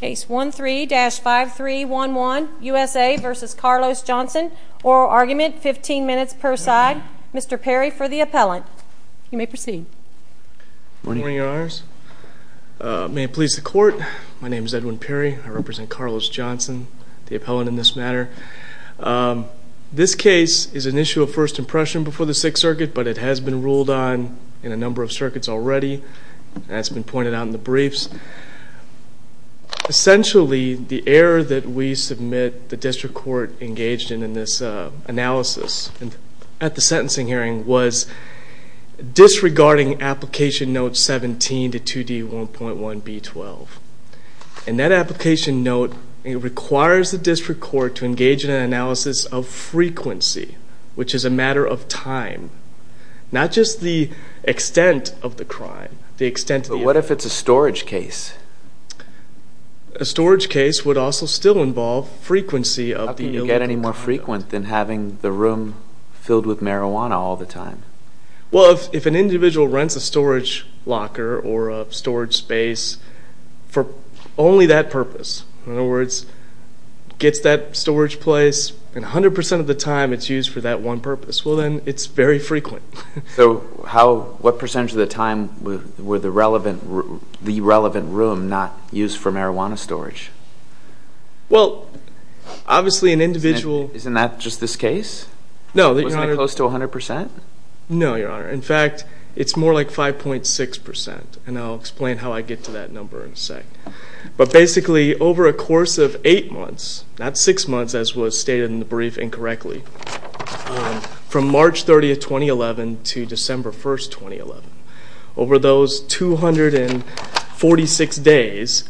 Case 13-5311 USA v. Carlos Johnson. Oral argument, 15 minutes per side. Mr. Perry for the appellant. You may proceed. Good morning, Your Honors. May it please the court. My name is Edwin Perry. I represent Carlos Johnson, the appellant in this matter. This case is an issue of first impression before the Sixth Circuit, but it has been ruled on in a number of circuits already. That's been pointed out in the briefs. Essentially, the error that we submit the district court engaged in in this analysis at the sentencing hearing was disregarding application note 17 to 2D 1.1 B12. And that application note requires the district court to engage in an analysis of frequency, which is a matter of time, not just the extent of the crime. But what if it's a storage case? A storage case would also still involve frequency. How can you get any more frequent than having the room filled with marijuana all the time? Well, if an individual rents a storage locker or a storage space for only that purpose, in other words, gets that storage place and 100% of the time it's used for that one purpose, well then it's very frequent. So how, what percentage of the time were the relevant room not used for marijuana storage? Well, obviously an individual... Isn't that just this case? No, Your Honor. Wasn't it close to 100%? No, Your Honor. In fact, it's more like 5.6%. And I'll explain how I get to that number in a sec. But basically, over a course of eight months, not six months as was stated in the brief incorrectly, from March 30th, 2011 to December 1st, 2011, over those 246 days,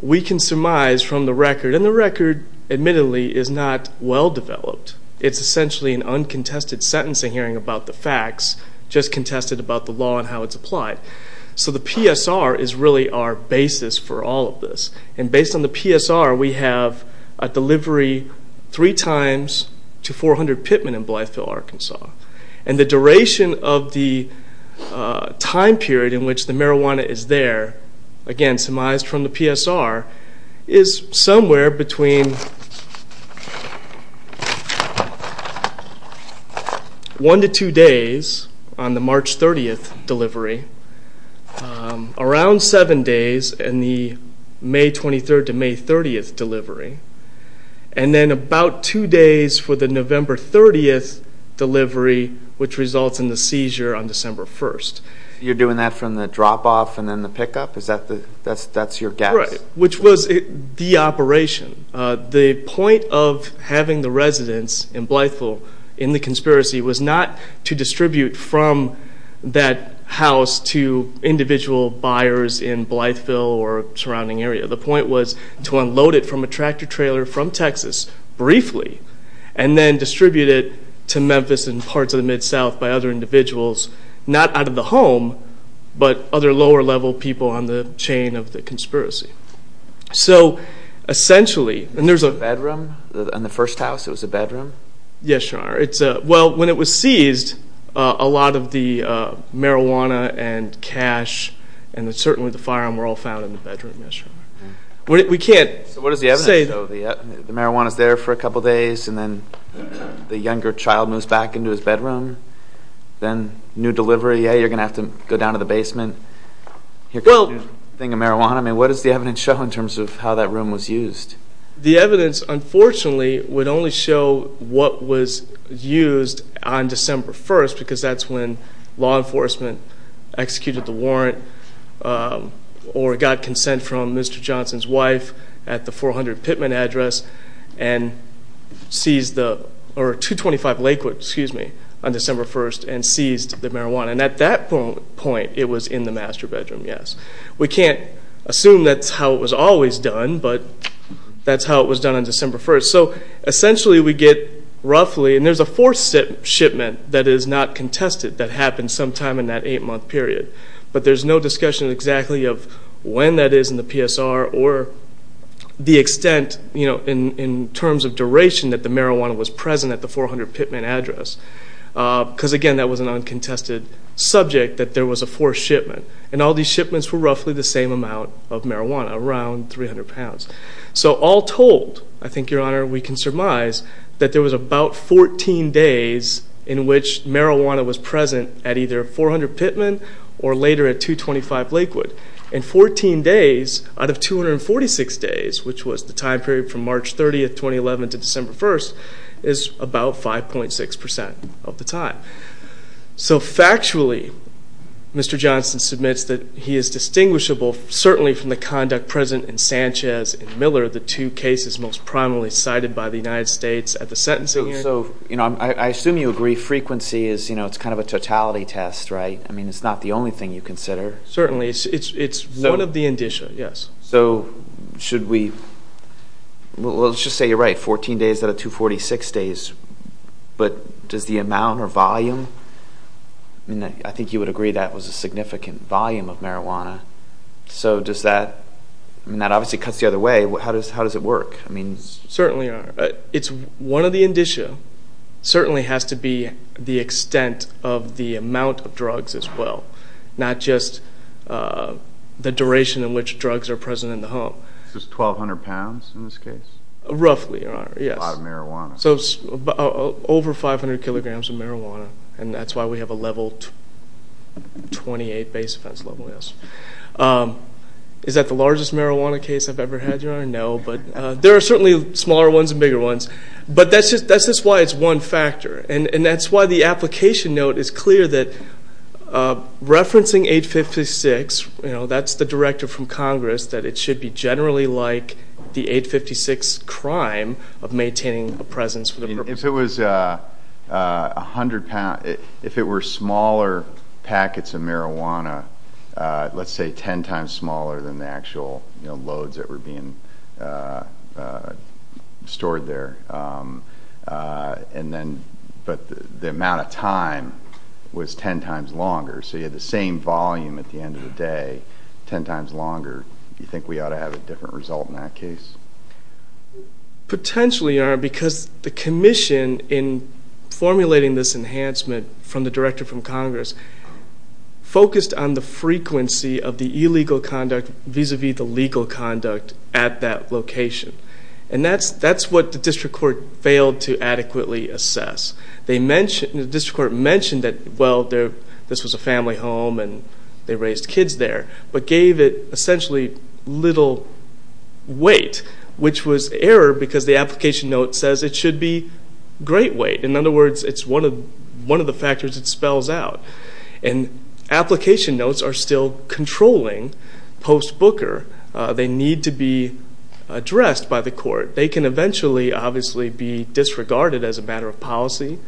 we can surmise from the record, and the record admittedly is not well-developed. It's essentially an uncontested sentencing hearing about the facts, just contested about the law and how it's applied. So the PSR is really our basis for all of this. And based on the PSR, we have a delivery three times to 400 Pittman in Blytheville, Arkansas. And the duration of the time period in which the marijuana is there, again, surmised from the PSR, is somewhere between one to two days on the March 30th delivery, around seven days in the May 23rd to May 30th delivery, and then about two days for the November 30th delivery, which results in the seizure on December 1st. You're doing that from the drop-off and then the pick-up? That's your guess? Right, which was the operation. The point of having the residents in Blytheville in the conspiracy was not to distribute from that house to individual buyers in Blytheville or surrounding area. The point was to unload it from a tractor-trailer from Texas, briefly, and then distribute it to Memphis and parts of the Mid-South by other individuals, not out of the home, but other lower-level people on the chain of the conspiracy. So, essentially... Was it a bedroom? In the first house, it was a bedroom? Yes, Your Honor. Well, when it was seized, a lot of the marijuana and cash and certainly the firearm were all found in the bedroom, yes, Your Honor. We can't say, though... So what is the evidence? The marijuana's there for a couple of days and then the younger child moves back into his bedroom, then new delivery, yeah, you're going to have to go down to the basement. Here comes the thing of marijuana. I mean, what does the evidence show in terms of how that room was used? The evidence, unfortunately, would only show what was used on December 1st because that's when law enforcement executed the warrant or got consent from Mr. Johnson's wife at the 400 Pittman address and seized the...or 225 Lakewood, excuse me, on December 1st and seized the marijuana. And at that point, it was in the master bedroom, yes. We can't assume that's how it was always done, but that's how it was done on December 1st. So, essentially, we get roughly...and there's a fourth shipment that is not contested that happened sometime in that eight-month period, but there's no discussion exactly of when that is in the PSR or the extent in terms of duration that the marijuana was present at the 400 Pittman address because, again, that was an uncontested subject that there was a fourth shipment. And all these shipments were roughly the same amount of marijuana, around 300 pounds. So, all told, I think, Your Honor, we can surmise that there was about 14 days in which marijuana was present at either 400 Pittman or later at 225 Lakewood. And 14 days out of 246 days, which was the time period from March 30th, 2011 to December 1st, is about 5.6% of the time. So, factually, Mr. Johnson submits that he is distinguishable, certainly from the conduct present in Sanchez and Miller, the two cases most prominently cited by the United States at the sentencing hearing. So, I assume you agree frequency is kind of a totality test, right? I mean, it's not the only thing you consider. Certainly. It's one of the indicia, yes. So, should we...well, let's just say you're right. 14 days out of 246 days, but does the amount or volume... I mean, I think you would agree that was a significant volume of marijuana. So, does that...I mean, that obviously cuts the other way. How does it work? I mean... Certainly, Your Honor. It's one of the indicia. Certainly has to be the extent of the amount of drugs as well, not just the duration in which drugs are present in the home. Is this 1,200 pounds in this case? Roughly, Your Honor. Yes. A lot of marijuana. So, over 500 kilograms of marijuana. And that's why we have a level 28 base offense level, yes. Is that the largest marijuana case I've ever had, Your Honor? No, but there are certainly smaller ones and bigger ones. But that's just why it's one factor. And that's why the application note is clear that referencing 856, you know, that's the directive from Congress, that it should be generally like the 856 crime of maintaining a presence... If it was 100 pounds... If it were smaller packets of marijuana, let's say 10 times smaller than the actual loads that were being stored there, but the amount of time was 10 times longer, so you had the same volume at the end of the day, 10 times longer. Do you think we ought to have a different result in that case? Potentially, Your Honor, because the commission in formulating this enhancement from the directive from Congress focused on the frequency of the illegal conduct vis-à-vis the legal conduct at that location. And that's what the district court failed to adequately assess. The district court mentioned that, well, this was a family home and they raised kids there, but gave it essentially little weight, which was error because the application note says it should be great weight. In other words, it's one of the factors it spells out. And application notes are still controlling post-booker. They need to be addressed by the court. They can eventually, obviously, be disregarded as a matter of policy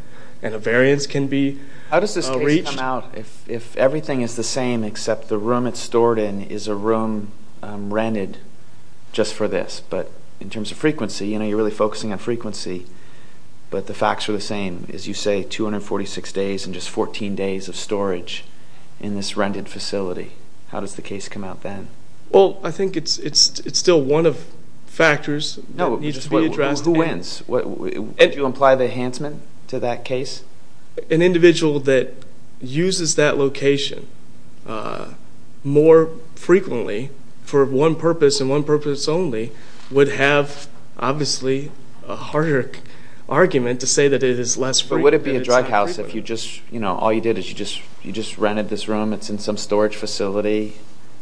and a variance can be reached. How does this case come out if everything is the same except the room it's stored in is a room rented just for this? But in terms of frequency, you know, you're really focusing on frequency, but the facts are the same. As you say, 246 days and just 14 days of storage in this rented facility. How does the case come out then? Well, I think it's still one of factors that needs to be addressed. Who wins? Do you imply the Hansman to that case? An individual that uses that location more frequently for one purpose and one purpose only would have, obviously, a harder argument to say that it is less frequent. But would it be a drug house if all you did is you just rented this room, it's in some storage facility,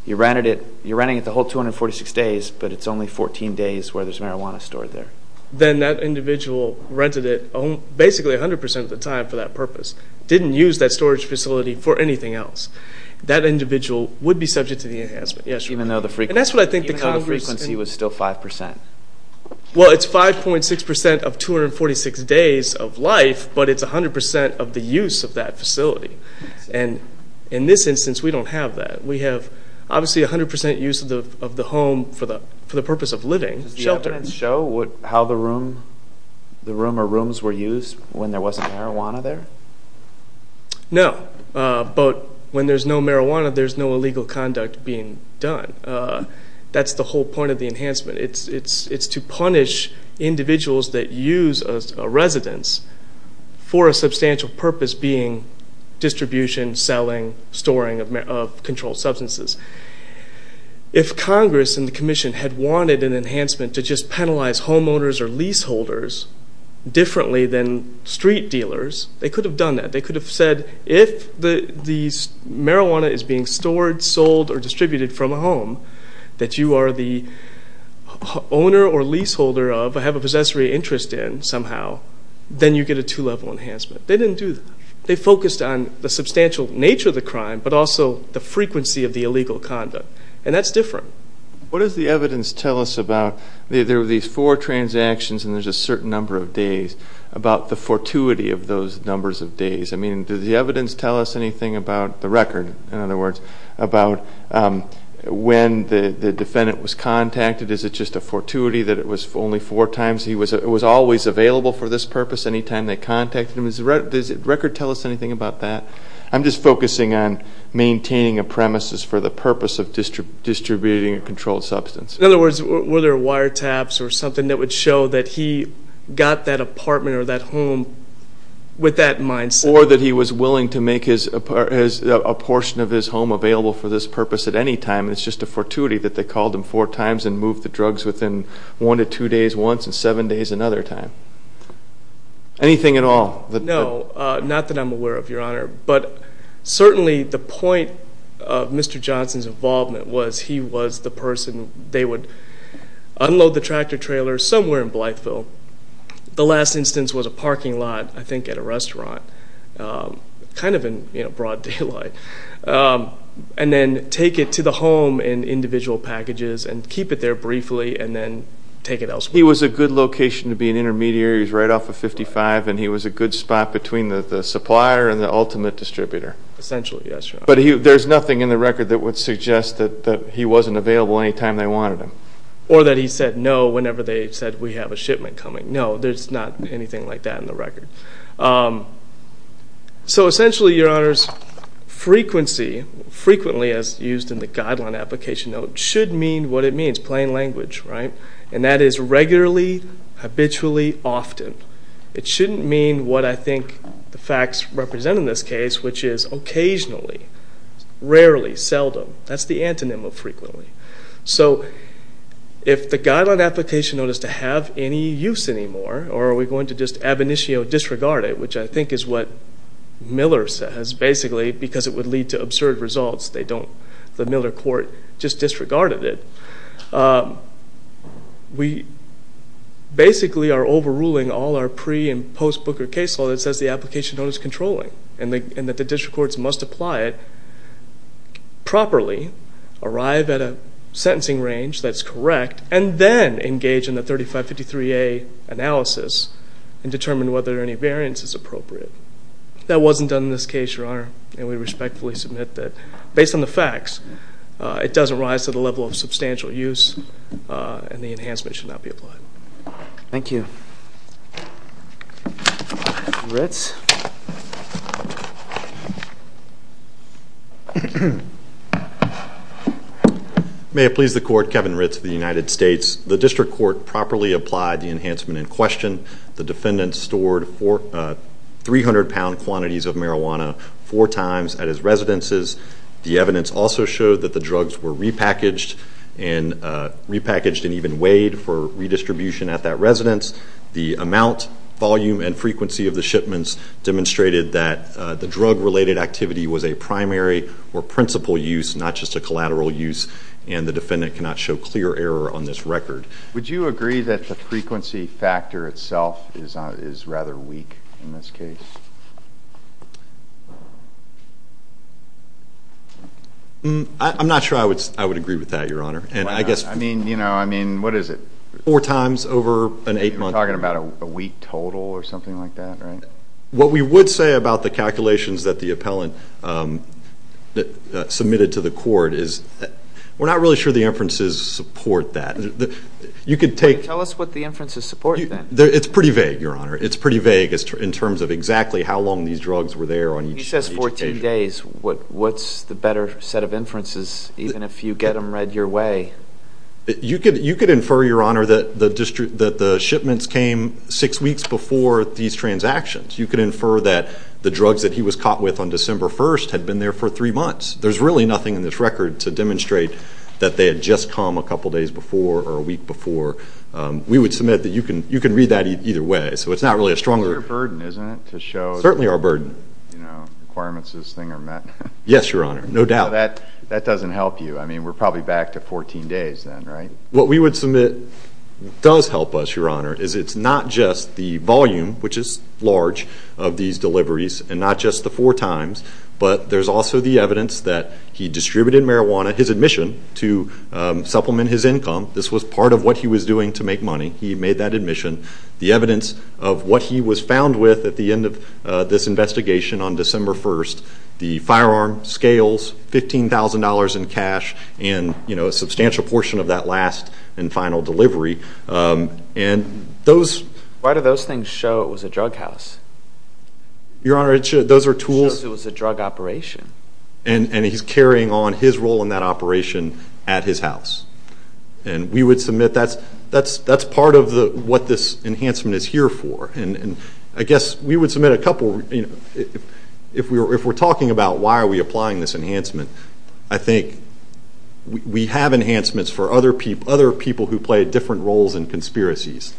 you rented it, you're renting it the whole 246 days, but it's only 14 days where there's marijuana stored there? Then that individual rented it basically 100% of the time for that purpose, didn't use that storage facility for anything else. That individual would be subject to the enhancement. Even though the frequency was still 5%? Well, it's 5.6% of 246 days of life, but it's 100% of the use of that facility. In this instance, we don't have that. We have, obviously, 100% use of the home for the purpose of living, shelter. Does the evidence show how the room or rooms were used when there wasn't marijuana there? No, but when there's no marijuana, there's no illegal conduct being done. That's the whole point of the enhancement. It's to punish individuals that use a residence for a substantial purpose being distribution, selling, storing of controlled substances. If Congress and the Commission had wanted an enhancement to just penalize homeowners or leaseholders differently than street dealers, they could have done that. They could have said, if the marijuana is being stored, sold, or distributed from a home, that you are the owner or leaseholder of, have a possessory interest in somehow, then you get a two-level enhancement. They didn't do that. They focused on the substantial nature of the crime, but also the frequency of the illegal conduct, and that's different. What does the evidence tell us about, there were these four transactions and there's a certain number of days, about the fortuity of those numbers of days? I mean, does the evidence tell us anything about the record, in other words, about when the defendant was contacted? Is it just a fortuity that it was only four times? He was always available for this purpose any time they contacted him. Does the record tell us anything about that? I'm just focusing on maintaining a premises for the purpose of distributing a controlled substance. In other words, were there wiretaps or something that would show that he got that apartment or that home with that mindset? Or that he was willing to make a portion of his home available for this purpose at any time, and it's just a fortuity that they called him four times and moved the drugs within one to two days once and seven days another time? Anything at all? No, not that I'm aware of, Your Honor, but certainly the point of Mr. Johnson's involvement was he was the person. They would unload the tractor-trailer somewhere in Blytheville. The last instance was a parking lot, I think, at a restaurant, kind of in broad daylight, and then take it to the home in individual packages and keep it there briefly and then take it elsewhere. He was a good location to be an intermediary. He was right off of 55, and he was a good spot between the supplier and the ultimate distributor. Essentially, yes, Your Honor. But there's nothing in the record that would suggest that he wasn't available any time they wanted him. Or that he said no whenever they said, we have a shipment coming. No, there's not anything like that in the record. So essentially, Your Honor, frequency, frequently as used in the guideline application note, should mean what it means, plain language, right? And that is regularly, habitually, often. It shouldn't mean what I think the facts represent in this case, which is occasionally, rarely, seldom. That's the antonym of frequently. So if the guideline application note is to have any use anymore, or are we going to just ab initio disregard it, which I think is what Miller says, basically, because it would lead to absurd results. The Miller court just disregarded it. We basically are overruling all our pre- and post-Booker case law that says the application note is controlling and that the district courts must apply it properly, arrive at a sentencing range that's correct, and then engage in the 3553A analysis and determine whether any variance is appropriate. That wasn't done in this case, Your Honor, and we respectfully submit that based on the facts it doesn't rise to the level of substantial use and the enhancement should not be applied. Thank you. Kevin Ritz. May it please the Court, Kevin Ritz of the United States. The district court properly applied the enhancement in question. The defendant stored 300-pound quantities of marijuana four times at his residences. The evidence also showed that the drugs were repackaged and even weighed for redistribution at that residence. The amount, volume, and frequency of the shipments demonstrated that the drug-related activity was a primary or principal use, not just a collateral use, and the defendant cannot show clear error on this record. Would you agree that the frequency factor itself is rather weak in this case? I'm not sure I would agree with that, Your Honor. I mean, what is it? Four times over an eight-month period. You're talking about a week total or something like that, right? What we would say about the calculations that the appellant submitted to the court is we're not really sure the inferences support that. Tell us what the inferences support, then. It's pretty vague, Your Honor. It's pretty vague in terms of exactly how long these drugs were there on each occasion. He says 14 days. What's the better set of inferences, even if you get them read your way? You could infer, Your Honor, that the shipments came six weeks before these transactions. You could infer that the drugs that he was caught with on December 1st had been there for three months. There's really nothing in this record to demonstrate that they had just come a couple days before or a week before. We would submit that you can read that either way. So it's not really a stronger. It's your burden, isn't it, to show that requirements of this thing are met? Yes, Your Honor, no doubt. That doesn't help you. I mean, we're probably back to 14 days then, right? What we would submit does help us, Your Honor, is it's not just the volume, which is large, of these deliveries and not just the four times, but there's also the evidence that he distributed marijuana, his admission to supplement his income. This was part of what he was doing to make money. He made that admission. The evidence of what he was found with at the end of this investigation on December 1st, the firearm, scales, $15,000 in cash, and a substantial portion of that last and final delivery. Why do those things show it was a drug house? Your Honor, those are tools. It shows it was a drug operation. And he's carrying on his role in that operation at his house. And we would submit that's part of what this enhancement is here for. And I guess we would submit a couple. If we're talking about why are we applying this enhancement, I think we have enhancements for other people who play different roles in conspiracies,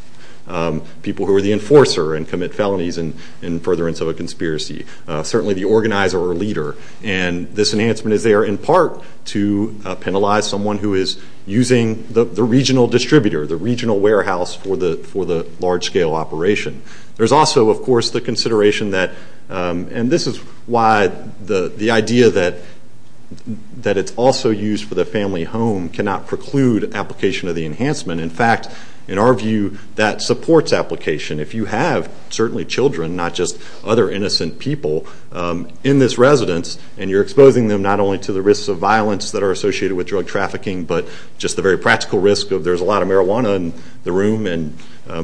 people who are the enforcer and commit felonies in furtherance of a conspiracy, certainly the organizer or leader. And this enhancement is there in part to penalize someone who is using the regional distributor, the regional warehouse for the large-scale operation. There's also, of course, the consideration that, and this is why the idea that it's also used for the family home cannot preclude application of the enhancement. In fact, in our view, that supports application. If you have certainly children, not just other innocent people, in this residence and you're exposing them not only to the risks of violence that are associated with drug trafficking, but just the very practical risk of there's a lot of marijuana in the room and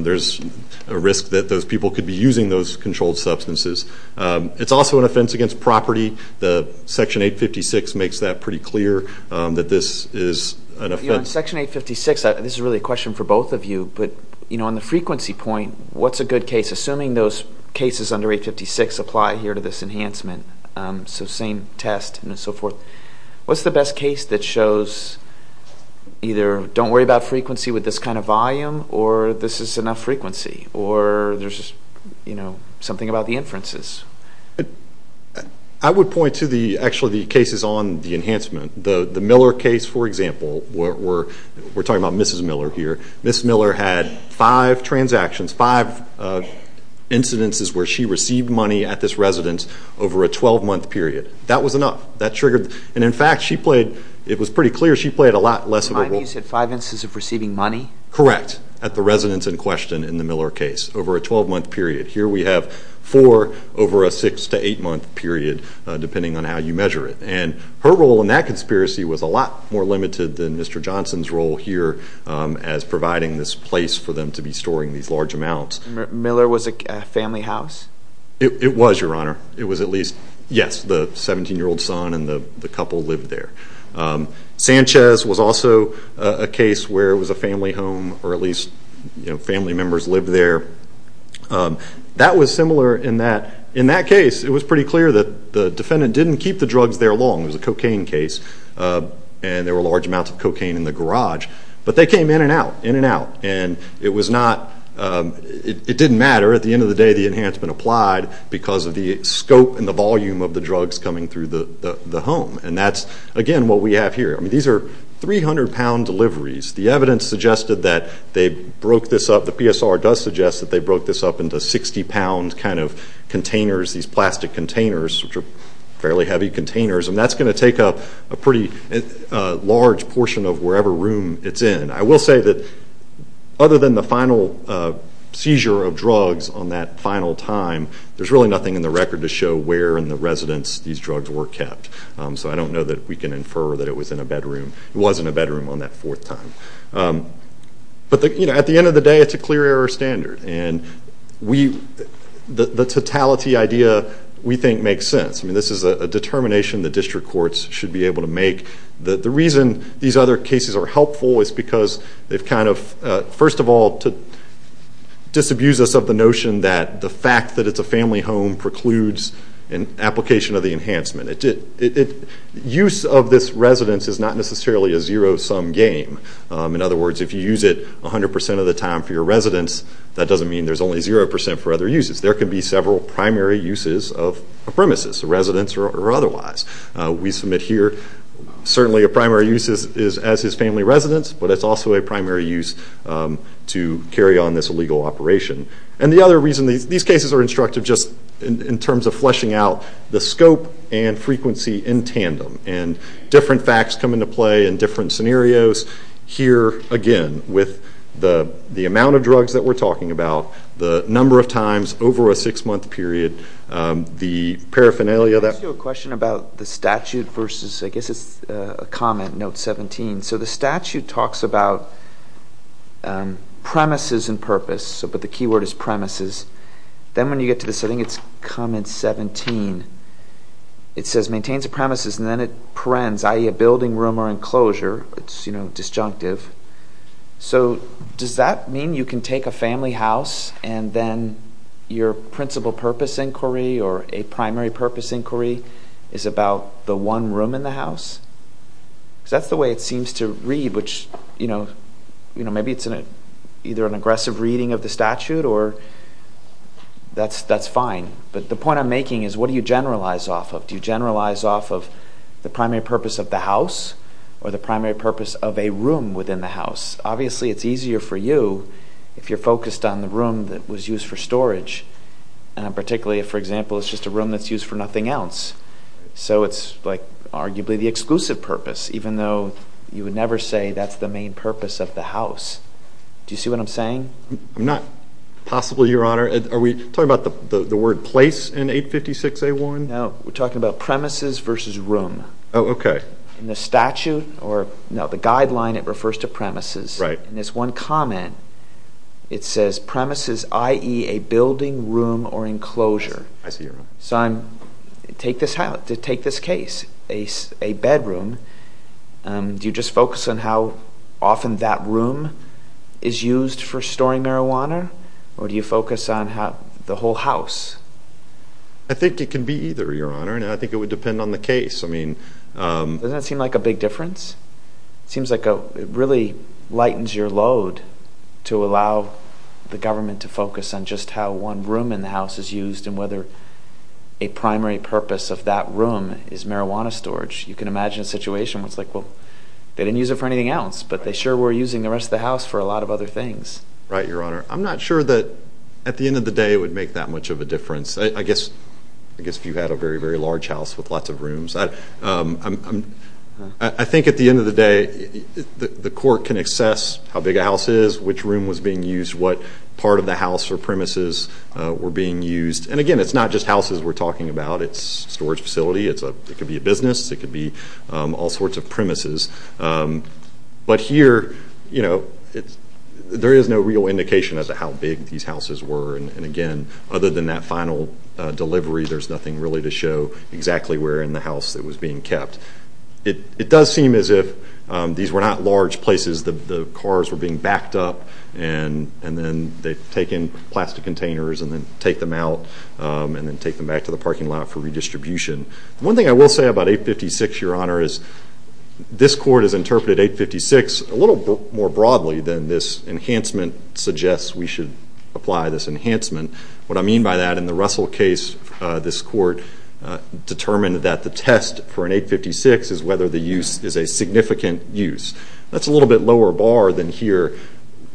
there's a risk that those people could be using those controlled substances. It's also an offense against property. Section 856 makes that pretty clear that this is an offense. Your Honor, Section 856, this is really a question for both of you, but on the frequency point, what's a good case? Assuming those cases under 856 apply here to this enhancement, so same test and so forth, what's the best case that shows either don't worry about frequency with this kind of volume or this is enough frequency or there's something about the inferences? I would point to actually the cases on the enhancement. The Miller case, for example, we're talking about Mrs. Miller here. Mrs. Miller had five transactions, five incidences where she received money at this residence over a 12-month period. That was enough. In fact, it was pretty clear she played a lot less of a role. You said five instances of receiving money? Correct, at the residence in question in the Miller case over a 12-month period. Here we have four over a 6- to 8-month period depending on how you measure it. Her role in that conspiracy was a lot more limited than Mr. Johnson's role here as providing this place for them to be storing these large amounts. Miller was a family house? It was, Your Honor. It was at least, yes, the 17-year-old son and the couple lived there. Sanchez was also a case where it was a family home or at least family members lived there. That was similar in that case. It was pretty clear that the defendant didn't keep the drugs there long. It was a cocaine case, and there were large amounts of cocaine in the garage. But they came in and out, in and out, and it didn't matter. At the end of the day, the enhancement applied because of the scope and the volume of the drugs coming through the home. And that's, again, what we have here. These are 300-pound deliveries. The evidence suggested that they broke this up. The PSR does suggest that they broke this up into 60-pound kind of containers, these plastic containers, which are fairly heavy containers. And that's going to take up a pretty large portion of wherever room it's in. I will say that other than the final seizure of drugs on that final time, there's really nothing in the record to show where in the residence these drugs were kept. So I don't know that we can infer that it was in a bedroom. It was in a bedroom on that fourth time. But, you know, at the end of the day, it's a clear error standard. And the totality idea, we think, makes sense. I mean, this is a determination the district courts should be able to make. The reason these other cases are helpful is because they've kind of, first of all, disabused us of the notion that the fact that it's a family home precludes an application of the enhancement. Use of this residence is not necessarily a zero-sum game. In other words, if you use it 100 percent of the time for your residence, that doesn't mean there's only zero percent for other uses. There could be several primary uses of a premises, a residence or otherwise. We submit here certainly a primary use is as his family residence, but it's also a primary use to carry on this legal operation. And the other reason these cases are instructive just in terms of fleshing out the scope and frequency in tandem. And different facts come into play in different scenarios. Here, again, with the amount of drugs that we're talking about, the number of times over a six-month period, the paraphernalia. I have a question about the statute versus, I guess it's a comment, note 17. So the statute talks about premises and purpose, but the key word is premises. Then when you get to the setting, it's comment 17. It says maintains the premises and then it parens, i.e., a building room or enclosure. It's disjunctive. So does that mean you can take a family house and then your principal purpose inquiry or a primary purpose inquiry is about the one room in the house? Because that's the way it seems to read, which, you know, maybe it's either an aggressive reading of the statute or that's fine. But the point I'm making is what do you generalize off of? Do you generalize off of the primary purpose of the house or the primary purpose of a room within the house? Obviously, it's easier for you if you're focused on the room that was used for storage, particularly if, for example, it's just a room that's used for nothing else. So it's, like, arguably the exclusive purpose, even though you would never say that's the main purpose of the house. Do you see what I'm saying? I'm not possible, Your Honor. Are we talking about the word place in 856A1? No, we're talking about premises versus room. Oh, okay. In the statute or, no, the guideline, it refers to premises. Right. In this one comment, it says premises, i.e., a building room or enclosure. I see your point. To take this case, a bedroom, do you just focus on how often that room is used for storing marijuana or do you focus on the whole house? I think it can be either, Your Honor, and I think it would depend on the case. Doesn't that seem like a big difference? It seems like it really lightens your load to allow the government to focus on just how one room in the house is used and whether a primary purpose of that room is marijuana storage. You can imagine a situation where it's like, well, they didn't use it for anything else, but they sure were using the rest of the house for a lot of other things. Right, Your Honor. I'm not sure that at the end of the day it would make that much of a difference. I guess if you had a very, very large house with lots of rooms. I think at the end of the day the court can assess how big a house is, which room was being used, what part of the house or premises were being used. And, again, it's not just houses we're talking about. It's a storage facility. It could be a business. It could be all sorts of premises. But here, you know, there is no real indication as to how big these houses were. And, again, other than that final delivery, there's nothing really to show exactly where in the house it was being kept. It does seem as if these were not large places. The cars were being backed up, and then they take in plastic containers and then take them out and then take them back to the parking lot for redistribution. One thing I will say about 856, Your Honor, is this court has interpreted 856 a little more broadly than this enhancement suggests we should apply this enhancement. What I mean by that, in the Russell case, this court determined that the test for an 856 is whether the use is a significant use. That's a little bit lower bar than here,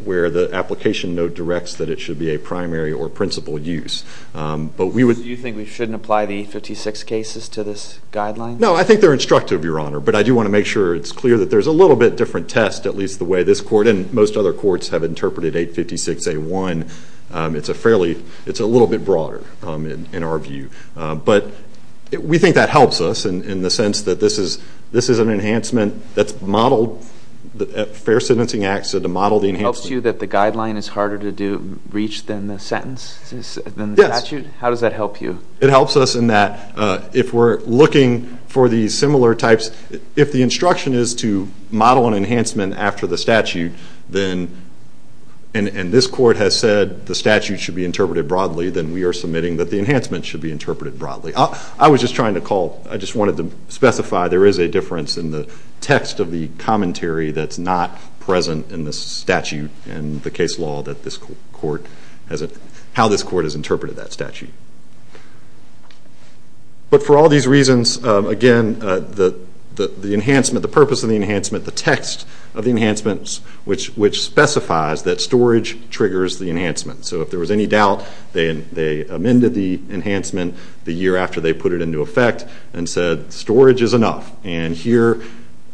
where the application note directs that it should be a primary or principal use. Do you think we shouldn't apply the 856 cases to this guideline? No, I think they're instructive, Your Honor. But I do want to make sure it's clear that there's a little bit different test, at least the way this court and most other courts have interpreted 856a1. It's a little bit broader in our view. But we think that helps us in the sense that this is an enhancement that's modeled at fair sentencing acts to model the enhancement. It helps you that the guideline is harder to reach than the statute? Yes. How does that help you? It helps us in that if we're looking for these similar types, if the instruction is to model an enhancement after the statute, and this court has said the statute should be interpreted broadly, then we are submitting that the enhancement should be interpreted broadly. I was just trying to call, I just wanted to specify there is a difference in the text of the commentary that's not present in the statute and the case law that this court has, how this court has interpreted that statute. But for all these reasons, again, the enhancement, the purpose of the enhancement, the text of the enhancements, which specifies that storage triggers the enhancement. So if there was any doubt, they amended the enhancement the year after they put it into effect and said storage is enough. And here,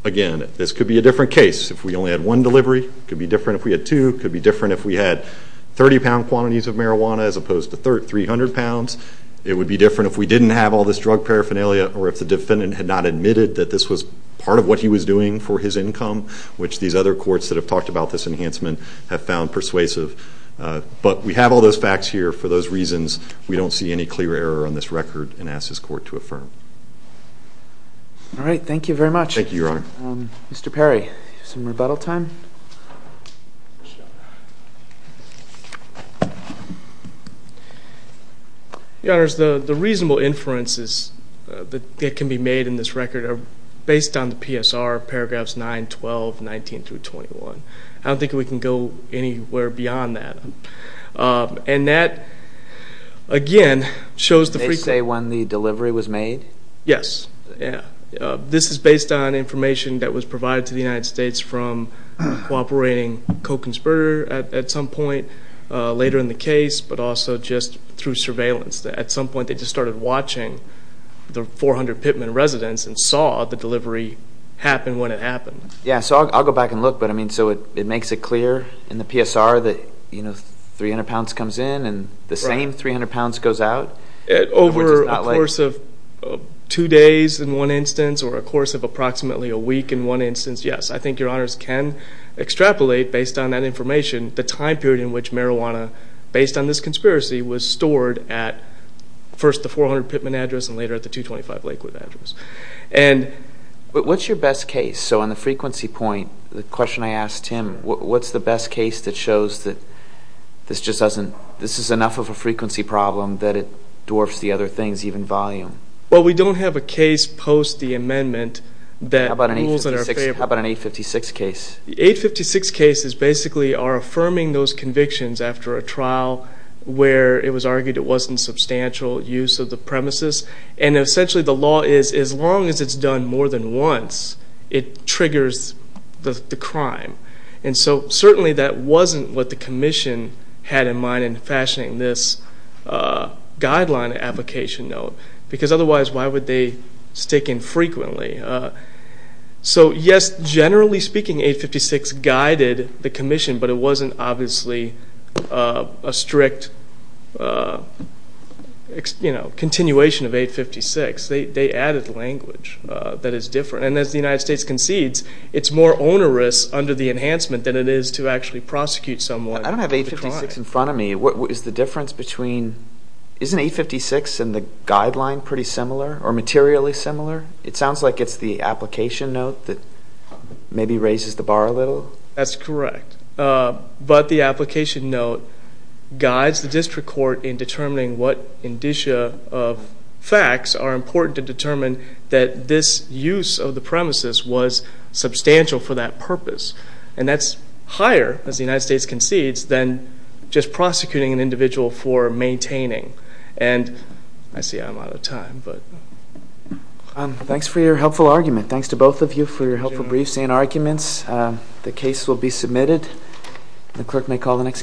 again, this could be a different case. If we only had one delivery, it could be different. If we had two, it could be different. If we had 30-pound quantities of marijuana as opposed to 300 pounds, it would be different if we didn't have all this drug paraphernalia or if the defendant had not admitted that this was part of what he was doing for his income, which these other courts that have talked about this enhancement have found persuasive. But we have all those facts here. For those reasons, we don't see any clear error on this record and ask this court to affirm it. All right. Thank you very much. Thank you, Your Honor. Mr. Perry, some rebuttal time? Your Honors, the reasonable inferences that can be made in this record are based on the PSR, paragraphs 9, 12, 19 through 21. I don't think we can go anywhere beyond that. And that, again, shows the frequency. They say when the delivery was made? Yes. This is based on information that was provided to the United States from cooperating co-conspirator at some point later in the case, but also just through surveillance. At some point, they just started watching the 400 Pittman residents and saw the delivery happen when it happened. Yeah, so I'll go back and look. But, I mean, so it makes it clear in the PSR that 300 pounds comes in and the same 300 pounds goes out? Over a course of two days in one instance or a course of approximately a week in one instance, yes. I think Your Honors can extrapolate based on that information the time period in which marijuana, based on this conspiracy, was stored at first the 400 Pittman address and later at the 225 Lakewood address. What's your best case? So on the frequency point, the question I asked Tim, what's the best case that shows that this is enough of a frequency problem that it dwarfs the other things, even volume? Well, we don't have a case post the amendment that rules in our favor. How about an 856 case? The 856 cases basically are affirming those convictions after a trial where it was argued it wasn't substantial use of the premises. And essentially the law is as long as it's done more than once, it triggers the crime. And so certainly that wasn't what the commission had in mind in fashioning this guideline application note because otherwise why would they stick infrequently? But it wasn't obviously a strict continuation of 856. They added language that is different. And as the United States concedes, it's more onerous under the enhancement than it is to actually prosecute someone. I don't have 856 in front of me. What is the difference between... Isn't 856 and the guideline pretty similar or materially similar? That's correct. But the application note guides the district court in determining what indicia of facts are important to determine that this use of the premises was substantial for that purpose. And that's higher, as the United States concedes, than just prosecuting an individual for maintaining. And I see I'm out of time. Thanks for your helpful argument. Thanks to both of you for your helpful briefs and arguments. The case will be submitted. The clerk may call the next case.